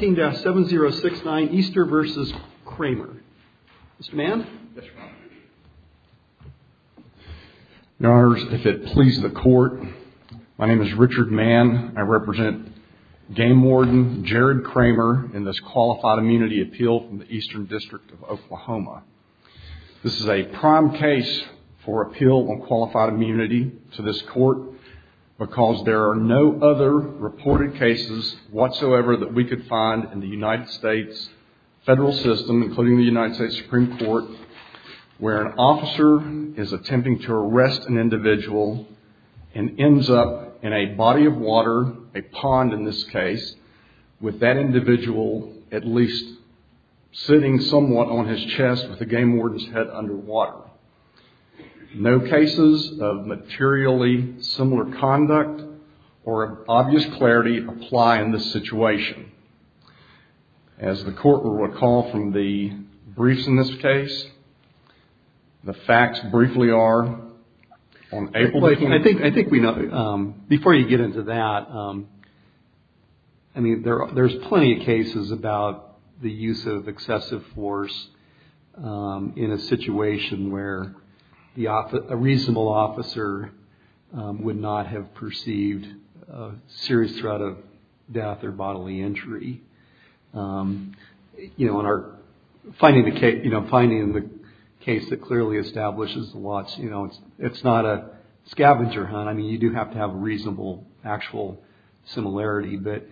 Team 7069, Easter v. Cramer. Mr. Mann? Yes, Your Honor. Your Honor, if it pleases the Court, my name is Richard Mann. I represent Game Warden Jared Cramer in this Qualified Immunity Appeal from the Eastern District of Oklahoma. This is a prime case for appeal on Qualified Immunity to this Court because there are no other reported cases whatsoever that we could find in the United States federal system, including the United States Supreme Court, where an officer is attempting to arrest an individual and ends up in a body of water, a pond in this case, with that individual at least sitting somewhat on his chest with the game warden's head underwater. No cases of materially similar conduct or obvious clarity apply in this situation. As the Court will recall from the briefs in this case, the facts briefly are... Before you get into that, there are plenty of cases about the use of excessive force in a situation where a reasonable officer would not have perceived a serious threat of death or bodily injury. Finding the case that clearly establishes the law, it's not a scavenger hunt. I mean, you do have to have reasonable actual similarity, but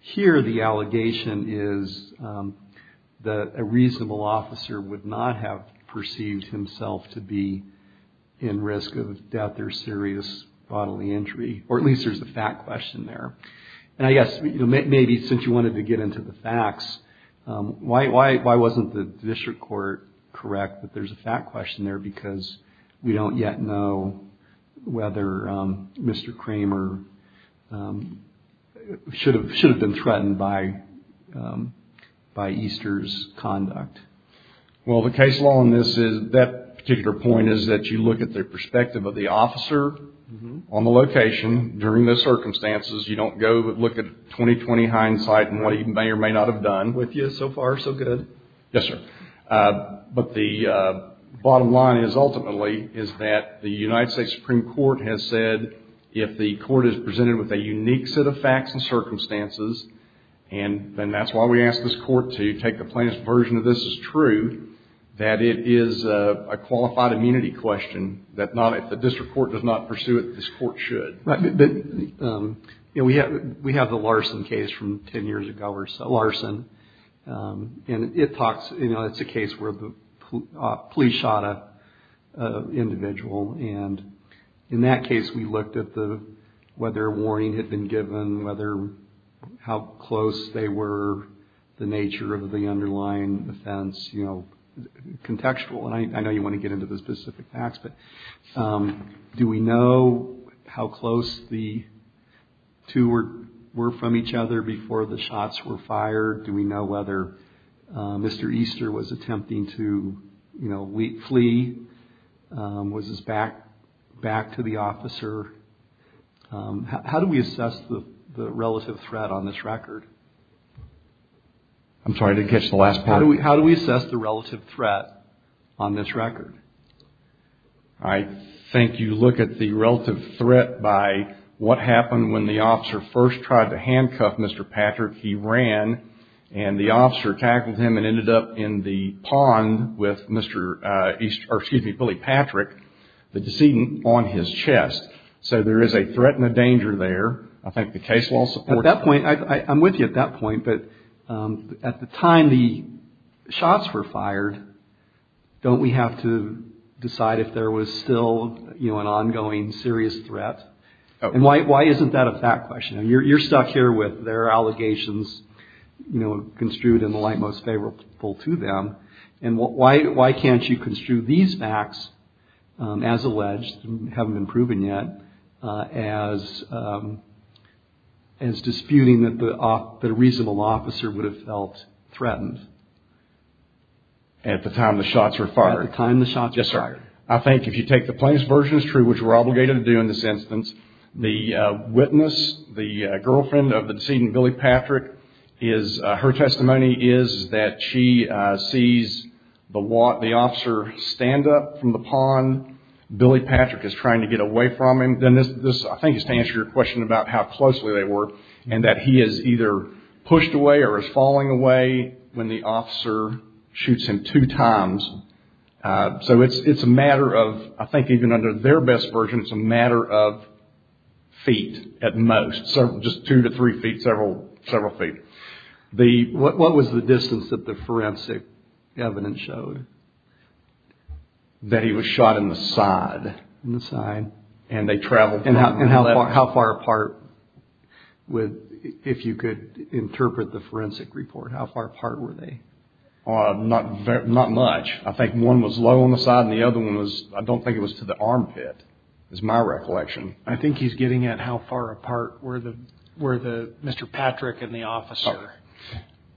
here the allegation is that a reasonable officer would not have perceived himself to be in risk of death or serious bodily injury, or at least there's a fact question there. And I guess maybe since you wanted to get into the facts, why wasn't the district court correct that there's a fact question there because we don't yet know whether Mr. Kramer should have been threatened by Easter's conduct? Well, the case law in that particular point is that you look at the perspective of the officer on the location during the circumstances. You don't go look at 20-20 hindsight and what he may or may not have done with you so far so good. Yes, sir. But the bottom line is, ultimately, is that the United States Supreme Court has said if the court is presented with a unique set of facts and circumstances, and that's why we ask this court to take the plainest version of this is true, that it is a qualified immunity question that if the district court does not pursue it, this court should. Right. But we have the Larson case from 10 years ago or so. Larson. And it talks, you know, it's a case where the police shot an individual, and in that case we looked at whether a warning had been given, how close they were, the nature of the underlying offense, you know, contextual. And I know you want to get into the specific facts, but do we know how close the two were from each other before the shots were fired? Do we know whether Mr. Easter was attempting to, you know, flee? Was his back to the officer? How do we assess the relative threat on this record? I'm sorry, I didn't catch the last part. How do we assess the relative threat on this record? I think you look at the relative threat by what happened when the officer first tried to handcuff Mr. Patrick. He ran, and the officer tackled him and ended up in the pond with Mr. Easter, or excuse me, Billy Patrick, the decedent, on his chest. So there is a threat and a danger there. I think the case law supports that. At that point, I'm with you at that point, but at the time the shots were fired, don't we have to decide if there was still, you know, an ongoing serious threat? And why isn't that a fact question? You're stuck here with their allegations, you know, construed in the light most favorable to them. And why can't you construe these facts as alleged, haven't been proven yet, as disputing that a reasonable officer would have felt threatened? At the time the shots were fired? At the time the shots were fired. Yes, sir. I think if you take the plainest version as true, which we're obligated to do in this instance, the witness, the girlfriend of the decedent, Billy Patrick, her testimony is that she sees the officer stand up from the pond. Billy Patrick is trying to get away from him. I think this is to answer your question about how closely they were, and that he is either pushed away or is falling away when the officer shoots him two times. So it's a matter of, I think even under their best version, it's a matter of feet at most. Just two to three feet, several feet. What was the distance that the forensic evidence showed that he was shot in the side? In the side. And how far apart, if you could interpret the forensic report, how far apart were they? Not much. I think one was low on the side and the other one was, I don't think it was to the armpit, is my recollection. I think he's getting at how far apart were Mr. Patrick and the officer.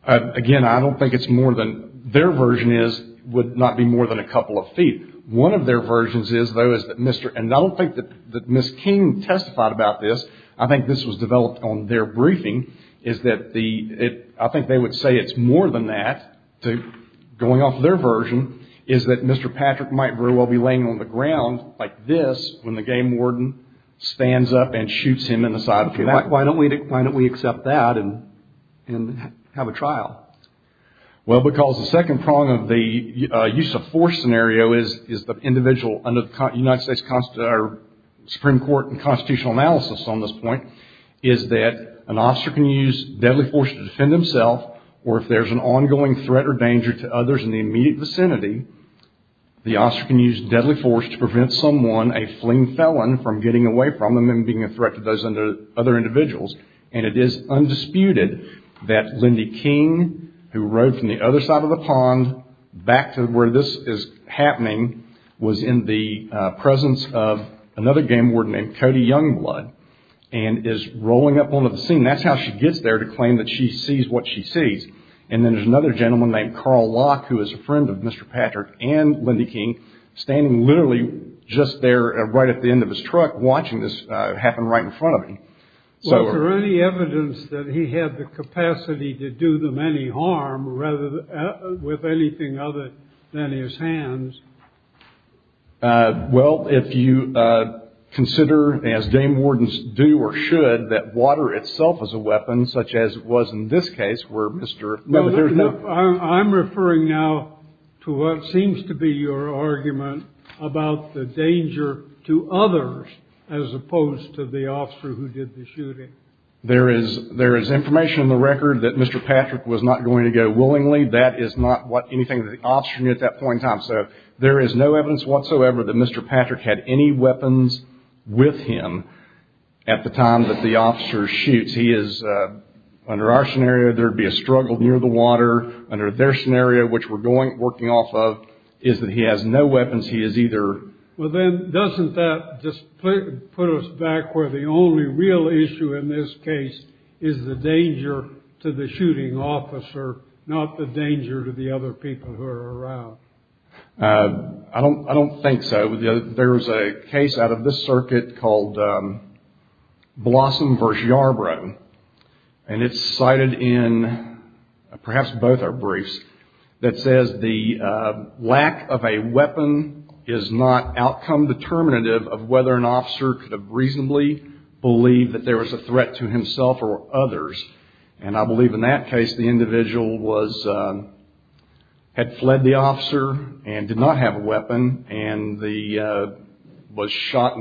Again, I don't think it's more than, their version is, would not be more than a couple of feet. One of their versions is, though, is that Mr., and I don't think that Ms. King testified about this. I think this was developed on their briefing, is that the, I think they would say it's more than that, going off their version, is that Mr. Patrick might very well be laying on the ground like this when the game warden stands up and shoots him in the side. Why don't we accept that and have a trial? Well, because the second prong of the use of force scenario is the individual, under the United States Supreme Court and constitutional analysis on this point, is that an officer can use deadly force to defend himself, or if there's an ongoing threat or danger to others in the immediate vicinity, the officer can use deadly force to prevent someone, a fleeing felon, from getting away from them and being a threat to those other individuals. And it is undisputed that Lindy King, who rode from the other side of the pond, back to where this is happening, was in the presence of another game warden named Cody Youngblood, and is rolling up onto the scene. That's how she gets there, to claim that she sees what she sees. And then there's another gentleman named Carl Locke, who is a friend of Mr. Patrick and Lindy King, standing literally just there, right at the end of his truck, watching this happen right in front of him. Was there any evidence that he had the capacity to do them any harm with anything other than his hands? Well, if you consider, as game wardens do or should, that water itself is a weapon, such as it was in this case where Mr. No, no, no. I'm referring now to what seems to be your argument about the danger to others, as opposed to the officer who did the shooting. There is information in the record that Mr. Patrick was not going to go willingly. That is not what anything that the officer knew at that point in time. So there is no evidence whatsoever that Mr. Patrick had any weapons with him at the time that the officer shoots. He is, under our scenario, there would be a struggle near the water. Under their scenario, which we're working off of, is that he has no weapons. Well, then doesn't that just put us back where the only real issue in this case is the danger to the shooting officer, not the danger to the other people who are around? I don't think so. There is a case out of this circuit called Blossom v. Yarbrough, and it's cited in perhaps both our briefs, that says the lack of a weapon is not outcome determinative of whether an officer could reasonably believe that there was a threat to himself or others. And I believe in that case the individual had fled the officer and did not have a weapon and was shot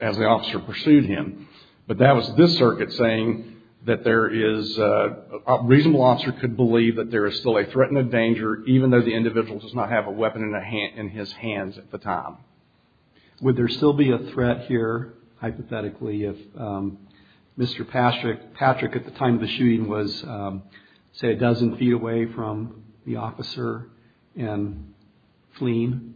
as the officer pursued him. But that was this circuit saying that a reasonable officer could believe that there is still a threat and a danger, even though the individual does not have a weapon in his hands at the time. Would there still be a threat here, hypothetically, if Mr. Patrick, at the time of the shooting, was, say, a dozen feet away from the officer and fleeing?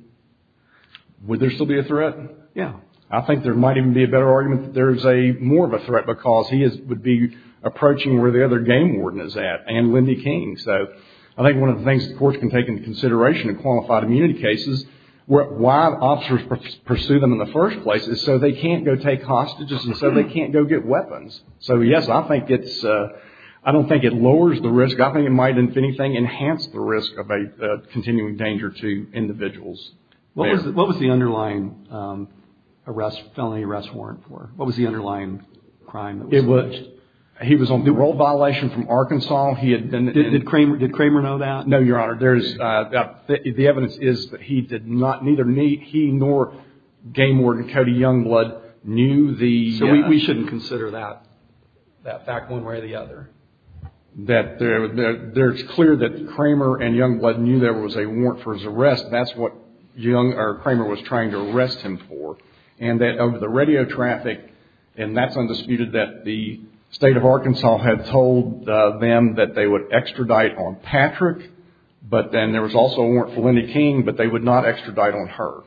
Would there still be a threat? Yeah. I think there might even be a better argument that there is more of a threat because he would be approaching where the other game warden is at and Lindy King. So I think one of the things the courts can take into consideration in qualified immunity cases why officers pursue them in the first place is so they can't go take hostages and so they can't go get weapons. So, yes, I don't think it lowers the risk. I think it might, if anything, enhance the risk of a continuing danger to individuals. What was the underlying felony arrest warrant for? What was the underlying crime that was alleged? He was on parole violation from Arkansas. Did Kramer know that? No, Your Honor. The evidence is that he did not, neither he nor game warden Cody Youngblood knew the- So we shouldn't consider that fact one way or the other? That there's clear that Kramer and Youngblood knew there was a warrant for his arrest. That's what Young or Kramer was trying to arrest him for. And that of the radio traffic, and that's undisputed, that the state of Arkansas had told them that they would extradite on Patrick, but then there was also a warrant for Lindy King, but they would not extradite on her.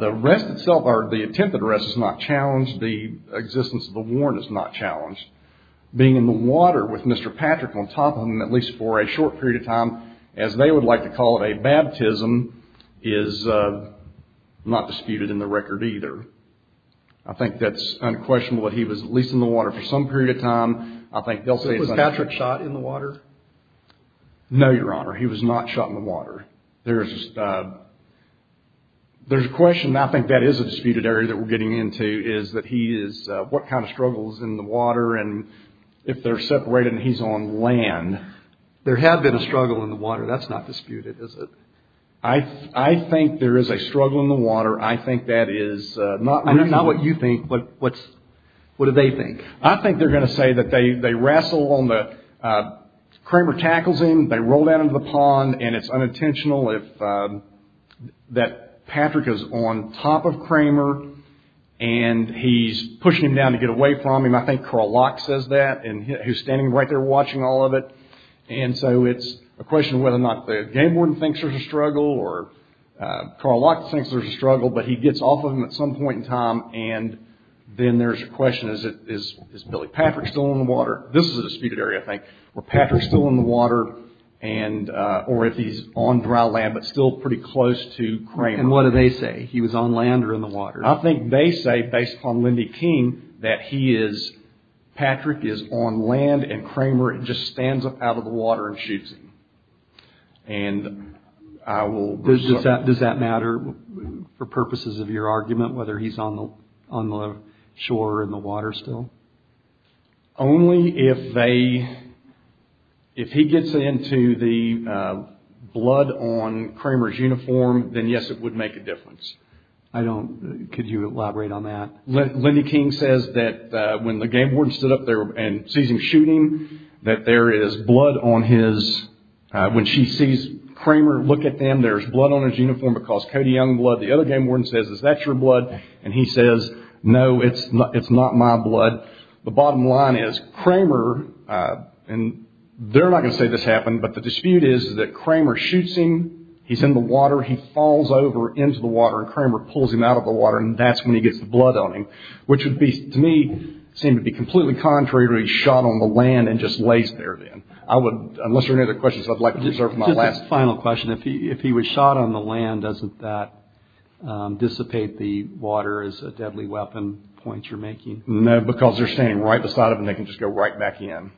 The arrest itself or the attempted arrest is not challenged. The existence of the warrant is not challenged. Being in the water with Mr. Patrick on top of him, at least for a short period of time, as they would like to call it a baptism, is not disputed in the record either. I think that's unquestionable that he was at least in the water for some period of time. I think they'll say- Was Patrick shot in the water? No, Your Honor. He was not shot in the water. There's a question, and I think that is a disputed area that we're getting into, is what kind of struggles in the water and if they're separated and he's on land. There had been a struggle in the water. That's not disputed, is it? I think there is a struggle in the water. I think that is not reasonable. Not what you think, but what do they think? I think they're going to say that they wrestle on the- Kramer tackles him, they roll down into the pond, and it's unintentional that Patrick is on top of Kramer and he's pushing him down to get away from him. I think Carl Locke says that, and he's standing right there watching all of it. And so it's a question of whether or not the game warden thinks there's a struggle or Carl Locke thinks there's a struggle, but he gets off of him at some point in time and then there's a question, is Billy Patrick still in the water? This is a disputed area, I think. Were Patrick still in the water or if he's on dry land, but still pretty close to Kramer? And what do they say? He was on land or in the water? I think they say, based on Lindy King, that Patrick is on land and Kramer just stands up out of the water and shoots him. Does that matter for purposes of your argument, whether he's on the shore or in the water still? Only if he gets into the blood on Kramer's uniform, then yes, it would make a difference. Could you elaborate on that? Lindy King says that when the game warden stood up there and sees him shooting, that there is blood on his... When she sees Kramer look at them, there's blood on his uniform because Cody Young blood. The other game warden says, is that your blood? And he says, no, it's not my blood. The bottom line is Kramer, and they're not going to say this happened, but the dispute is that Kramer shoots him, he's in the water, he falls over into the water and Kramer pulls him out of the water and that's when he gets the blood on him, which would be, to me, seem to be completely contrary to where he's shot on the land and just lays there then. Unless there are any other questions, I'd like to reserve my last... Dissipate the water as a deadly weapon point you're making. No, because they're standing right beside him and they can just go right back in.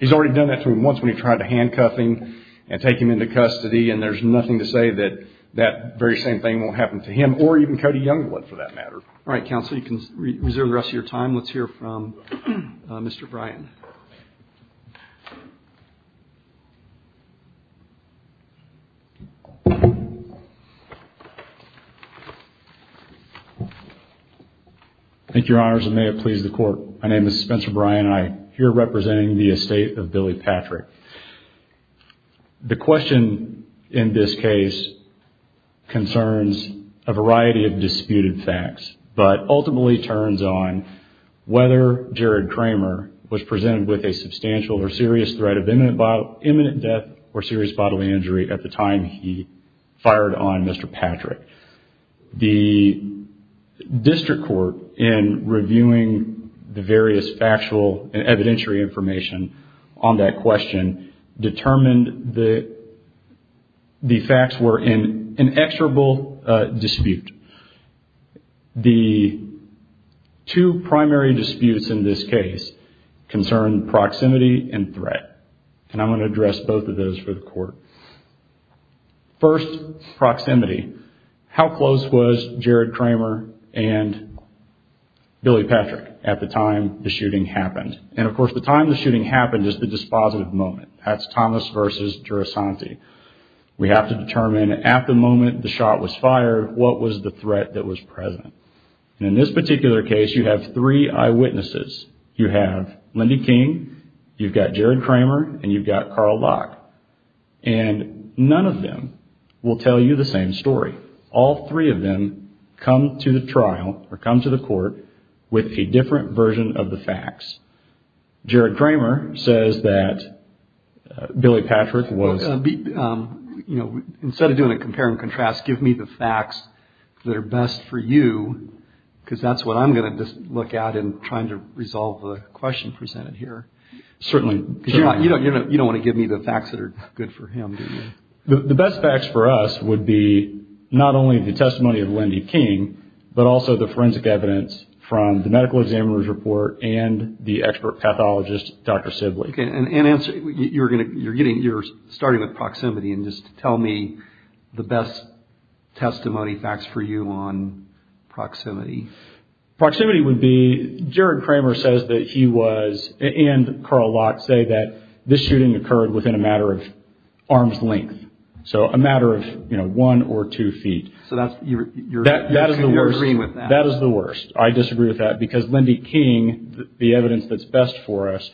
He's already done that to him once when he tried to handcuff him and take him into custody and there's nothing to say that that very same thing won't happen to him or even Cody Young would for that matter. All right, counsel, you can reserve the rest of your time. Let's hear from Mr. Bryan. Thank you, Your Honors, and may it please the Court. My name is Spencer Bryan and I'm here representing the estate of Billy Patrick. The question in this case concerns a variety of disputed facts, but ultimately turns on whether Jared Kramer was presented with a substantial or serious threat of imminent death or serious bodily injury at the time he fired on Mr. Patrick. The district court, in reviewing the various factual and evidentiary information on that question, determined that the facts were in inexorable dispute. The two primary disputes in this case concern proximity and threat, and I'm going to address both of those for the Court. First, proximity. How close was Jared Kramer and Billy Patrick at the time the shooting happened? And, of course, the time the shooting happened is the dispositive moment. That's Thomas versus Girosanti. We have to determine at the moment the shot was fired, what was the threat that was present. And in this particular case, you have three eyewitnesses. You have Lindy King, you've got Jared Kramer, and you've got Carl Locke. And none of them will tell you the same story. All three of them come to the trial or come to the court with a different version of the facts. Jared Kramer says that Billy Patrick was... Well, instead of doing a compare and contrast, give me the facts that are best for you, because that's what I'm going to look at in trying to resolve the question presented here. Certainly. You don't want to give me the facts that are good for him, do you? The best facts for us would be not only the testimony of Lindy King, but also the forensic evidence from the medical examiner's report and the expert pathologist, Dr. Sibley. You're starting with proximity. Just tell me the best testimony facts for you on proximity. Proximity would be, Jared Kramer says that he was, and Carl Locke, say that this shooting occurred within a matter of arm's length. So a matter of one or two feet. So you're agreeing with that? That is the worst. I disagree with that, because Lindy King, the evidence that's best for us,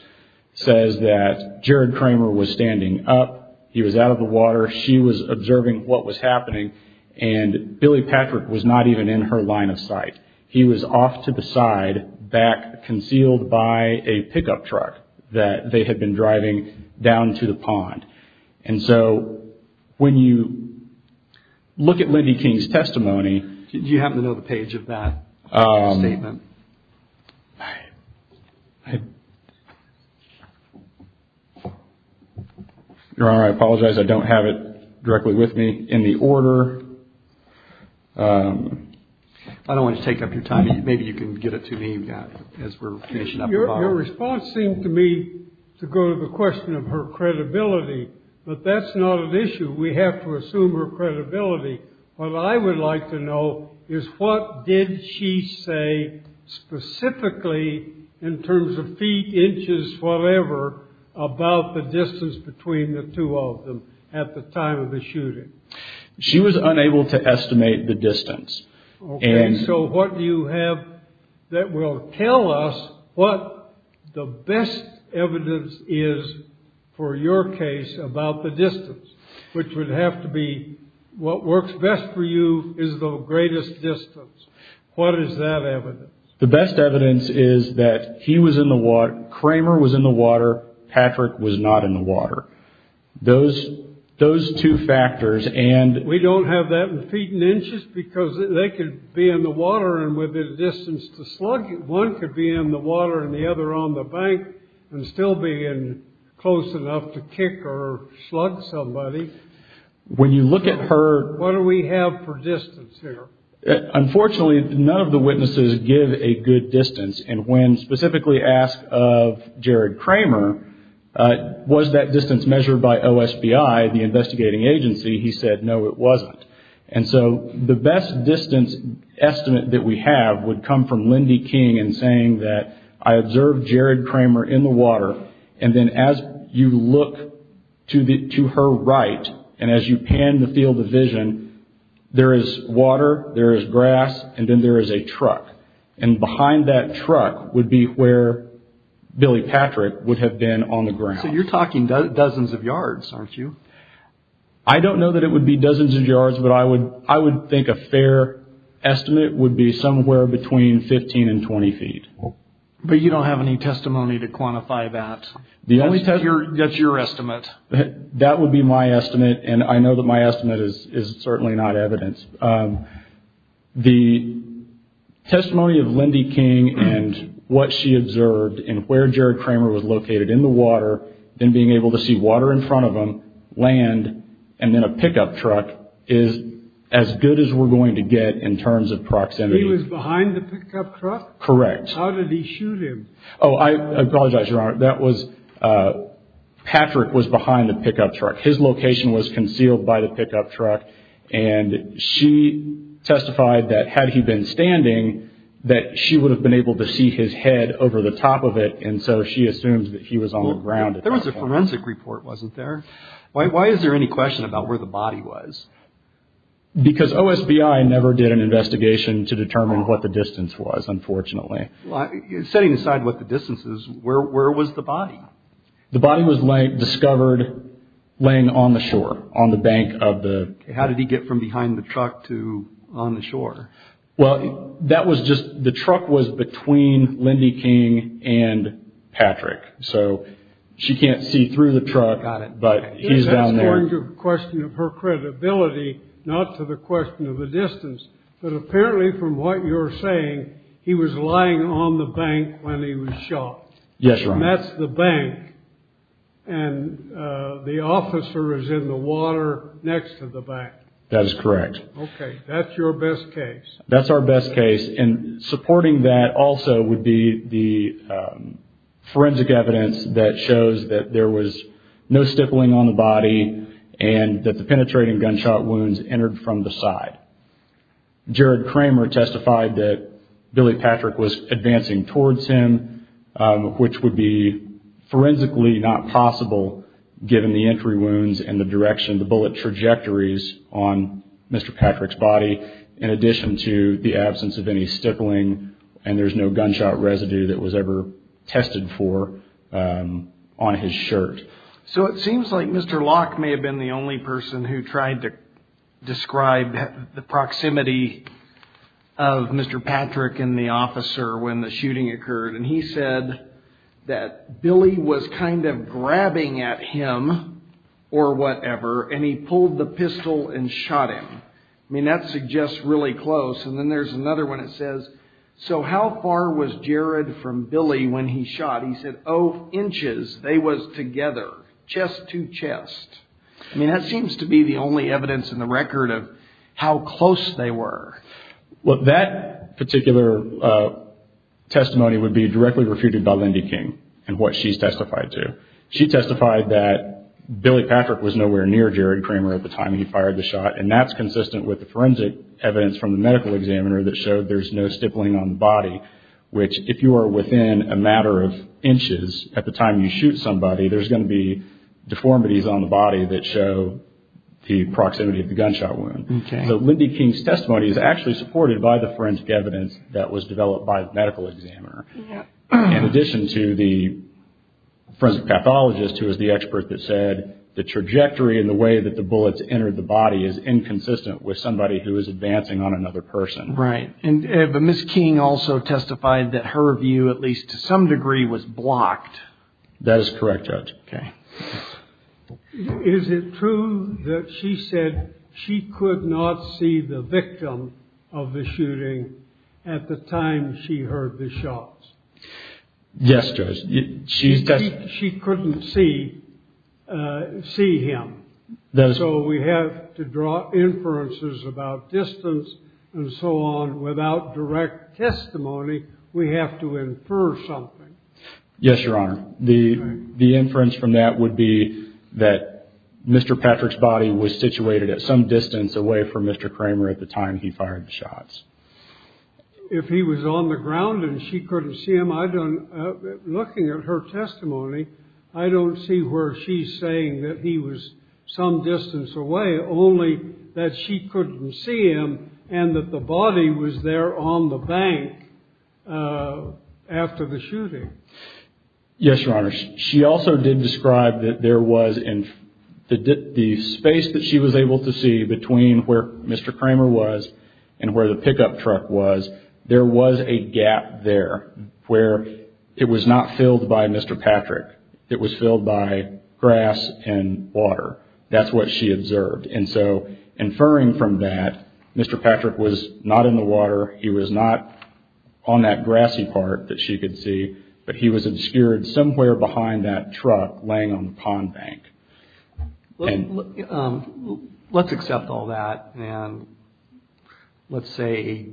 says that Jared Kramer was standing up, he was out of the water, she was observing what was happening, and Billy Patrick was not even in her line of sight. He was off to the side, back, concealed by a pickup truck that they had been driving down to the pond. And so when you look at Lindy King's testimony. Do you happen to know the page of that statement? Your Honor, I apologize. I don't have it directly with me in the order. I don't want to take up your time. Maybe you can get it to me as we're finishing up. Your response seemed to me to go to the question of her credibility. But that's not an issue. We have to assume her credibility. What I would like to know is what did she say specifically, in terms of feet, inches, whatever, about the distance between the two of them at the time of the shooting? She was unable to estimate the distance. Okay. So what do you have that will tell us what the best evidence is for your case about the distance? Which would have to be what works best for you is the greatest distance. What is that evidence? The best evidence is that he was in the water. Kramer was in the water. Patrick was not in the water. Those two factors. We don't have that in feet and inches because they could be in the water and within a distance to slug. One could be in the water and the other on the bank and still be close enough to kick or slug somebody. When you look at her... What do we have for distance here? Unfortunately, none of the witnesses give a good distance. And when specifically asked of Jared Kramer, was that distance measured by OSBI, the investigating agency, he said no, it wasn't. And so the best distance estimate that we have would come from Lindy King in saying that I observed Jared Kramer in the water and then as you look to her right and as you pan the field of vision, there is water, there is grass, and then there is a truck. And behind that truck would be where Billy Patrick would have been on the ground. So you're talking dozens of yards, aren't you? I don't know that it would be dozens of yards, but I would think a fair estimate would be somewhere between 15 and 20 feet. But you don't have any testimony to quantify that. That's your estimate. That would be my estimate, and I know that my estimate is certainly not evidence. The testimony of Lindy King and what she observed and where Jared Kramer was located in the water, then being able to see water in front of him, land, and then a pickup truck is as good as we're going to get in terms of proximity. He was behind the pickup truck? Correct. How did he shoot him? Oh, I apologize, Your Honor. Patrick was behind the pickup truck. His location was concealed by the pickup truck, and she testified that had he been standing, that she would have been able to see his head over the top of it, and so she assumed that he was on the ground. There was a forensic report, wasn't there? Why is there any question about where the body was? Because OSBI never did an investigation to determine what the distance was, unfortunately. Setting aside what the distance is, where was the body? The body was discovered laying on the shore, on the bank of the... How did he get from behind the truck to on the shore? Well, the truck was between Lindy King and Patrick, so she can't see through the truck, but he's down there. That's going to a question of her credibility, not to the question of the distance, but apparently from what you're saying, he was lying on the bank when he was shot. Yes, Your Honor. And that's the bank, and the officer is in the water next to the bank. That is correct. Okay, that's your best case. That's our best case, and supporting that also would be the forensic evidence that shows that there was no stippling on the body and that the penetrating gunshot wounds entered from the side. Jared Kramer testified that Billy Patrick was advancing towards him, which would be forensically not possible, given the entry wounds and the direction, the bullet trajectories on Mr. Patrick's body, in addition to the absence of any stippling and there's no gunshot residue that was ever tested for on his shirt. So it seems like Mr. Locke may have been the only person who tried to describe the proximity of Mr. Patrick and the officer when the shooting occurred, and he said that Billy was kind of grabbing at him or whatever, and he pulled the pistol and shot him. I mean, that suggests really close, and then there's another one that says, so how far was Jared from Billy when he shot? He said, oh, inches. They was together, chest to chest. I mean, that seems to be the only evidence in the record of how close they were. Well, that particular testimony would be directly refuted by Lindy King and what she's testified to. She testified that Billy Patrick was nowhere near Jared Kramer at the time he fired the shot, and that's consistent with the forensic evidence from the medical examiner that showed there's no stippling on the body, which if you are within a matter of inches at the time you shoot somebody, there's going to be deformities on the body that show the proximity of the gunshot wound. So Lindy King's testimony is actually supported by the forensic evidence that was developed by the medical examiner. In addition to the forensic pathologist who is the expert that said the trajectory and the way that the bullets entered the body is inconsistent with somebody who is advancing on another person. Right. But Ms. King also testified that her view, at least to some degree, was blocked. That is correct, Judge. Okay. Is it true that she said she could not see the victim of the shooting at the time she heard the shots? Yes, Judge. She couldn't see him. So we have to draw inferences about distance and so on. Without direct testimony, we have to infer something. Yes, Your Honor. The inference from that would be that Mr. Patrick's body was situated at some distance away from Mr. Kramer at the time he fired the shots. If he was on the ground and she couldn't see him, looking at her testimony, I don't see where she's saying that he was some distance away, only that she couldn't see him and that the body was there on the bank after the shooting. Yes, Your Honor. She also did describe that there was, in the space that she was able to see between where Mr. Kramer was and where the pickup truck was, there was a gap there where it was not filled by Mr. Patrick. It was filled by grass and water. That's what she observed. And so inferring from that, Mr. Patrick was not in the water. He was not on that grassy part that she could see, but he was obscured somewhere behind that truck laying on the pond bank. Let's accept all that and let's say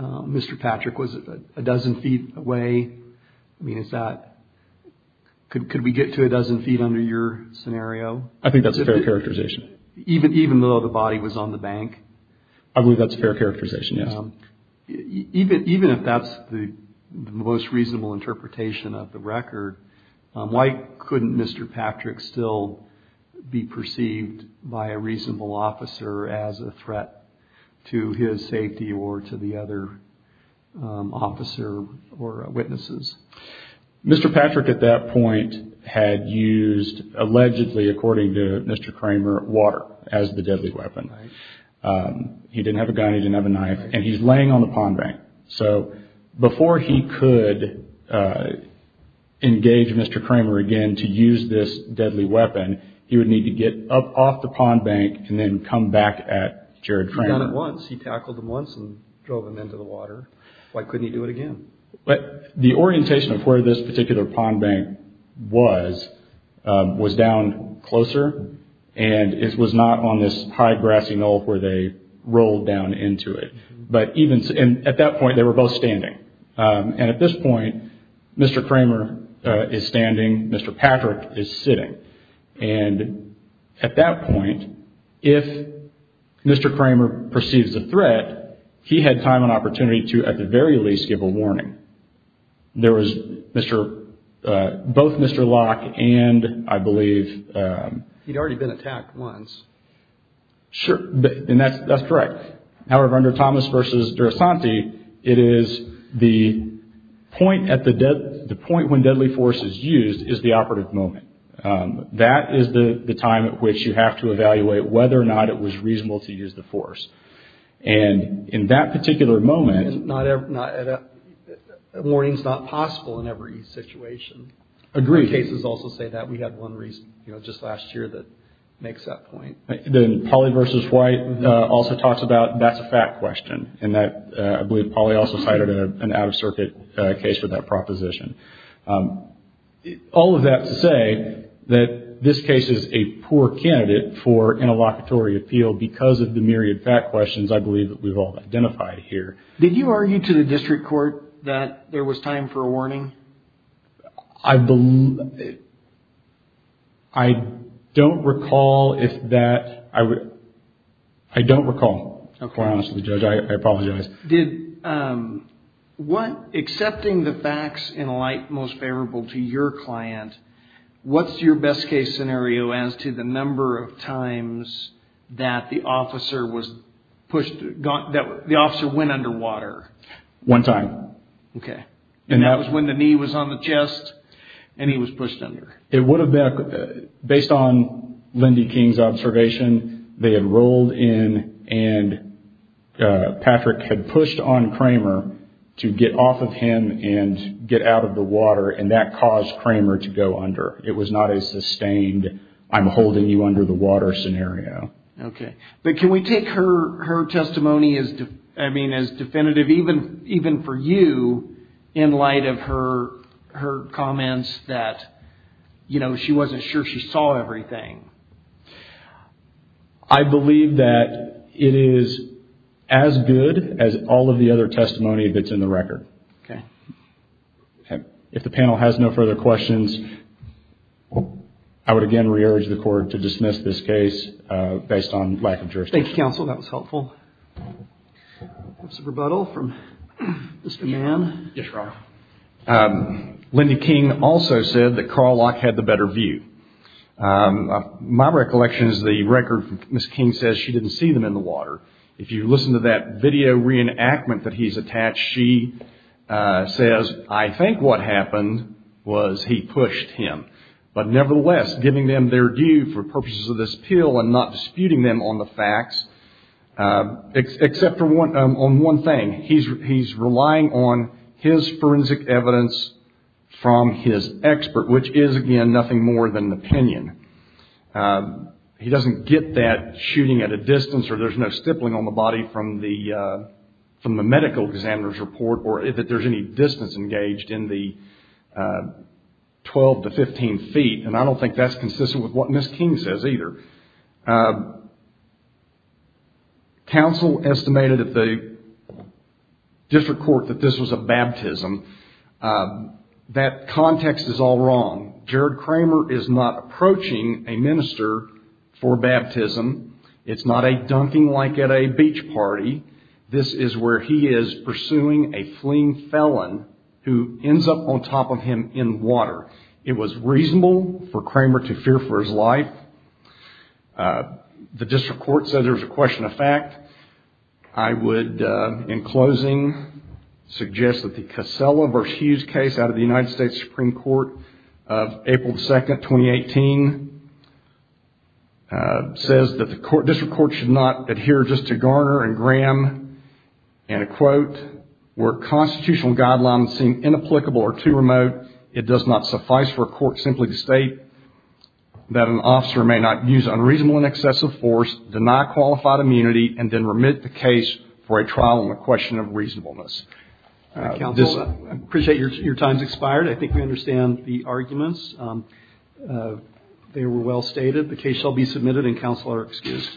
Mr. Patrick was a dozen feet away. I mean, could we get to a dozen feet under your scenario? I think that's a fair characterization. Even though the body was on the bank? I believe that's a fair characterization, yes. Even if that's the most reasonable interpretation of the record, why couldn't Mr. Patrick still be perceived by a reasonable officer as a threat to his safety or to the other officer or witnesses? Mr. Patrick, at that point, had used, allegedly, according to Mr. Kramer, water as the deadly weapon. He didn't have a gun. He didn't have a knife. And he's laying on the pond bank. So before he could engage Mr. Kramer again to use this deadly weapon, he would need to get up off the pond bank and then come back at Jared Kramer. He'd done it once. He tackled him once and drove him into the water. Why couldn't he do it again? The orientation of where this particular pond bank was, was down closer. And it was not on this high, grassy knoll where they rolled down into it. And at that point, they were both standing. And at this point, Mr. Kramer is standing. Mr. Patrick is sitting. And at that point, if Mr. Kramer perceives a threat, he had time and opportunity to, at the very least, give a warning. There was both Mr. Locke and, I believe— He'd already been attacked once. Sure. And that's correct. However, under Thomas v. Durasanti, it is the point when deadly force is used is the operative moment. That is the time at which you have to evaluate whether or not it was reasonable to use the force. And in that particular moment— Warning's not possible in every situation. Agreed. Some cases also say that. We had one just last year that makes that point. Polly v. White also talks about that's a fact question. And I believe Polly also cited an out-of-circuit case for that proposition. All of that to say that this case is a poor candidate for interlocutory appeal because of the myriad fact questions, I believe, that we've all identified here. Did you argue to the district court that there was time for a warning? I don't recall if that—I don't recall, to be honest with you, Judge. I apologize. Accepting the facts in light most favorable to your client, what's your best-case scenario as to the number of times that the officer went underwater? One time. Okay. And that was when the knee was on the chest and he was pushed under. It would have been—based on Lindy King's observation, they had rolled in and Patrick had pushed on Kramer to get off of him and get out of the water, and that caused Kramer to go under. It was not a sustained, I'm holding you under the water scenario. Okay. But can we take her testimony as definitive, even for you, in light of her comments that she wasn't sure she saw everything? I believe that it is as good as all of the other testimony that's in the record. Okay. If the panel has no further questions, I would again re-urge the Court to dismiss this case based on lack of jurisdiction. Thank you, Counsel. That was helpful. Rebuttal from Mr. Mann. Yes, Your Honor. Lindy King also said that Karlock had the better view. My recollection is the record, Ms. King says she didn't see them in the water. If you listen to that video reenactment that he's attached, she says, I think what happened was he pushed him. But nevertheless, giving them their due for purposes of this appeal and not disputing them on the facts, except for one thing, he's relying on his forensic evidence from his expert, which is, again, nothing more than an opinion. He doesn't get that shooting at a distance or there's no stippling on the body from the medical examiner's report or that there's any distance engaged in the 12 to 15 feet. And I don't think that's consistent with what Ms. King says either. Counsel estimated at the district court that this was a baptism. That context is all wrong. Jared Kramer is not approaching a minister for baptism. It's not a dunking like at a beach party. This is where he is pursuing a fleeing felon who ends up on top of him in water. It was reasonable for Kramer to fear for his life. The district court said there was a question of fact. I would, in closing, suggest that the Casella v. Hughes case out of the United States Supreme Court of April 2, 2018, says that the district court should not adhere just to Garner and Graham, and a quote, where constitutional guidelines seem inapplicable or too remote, it does not suffice for a court simply to state that an officer may not use unreasonable and excessive force, deny qualified immunity, and then remit the case for a trial on the question of reasonableness. I appreciate your time has expired. I think we understand the arguments. They were well stated. The case shall be submitted and counsel are excused.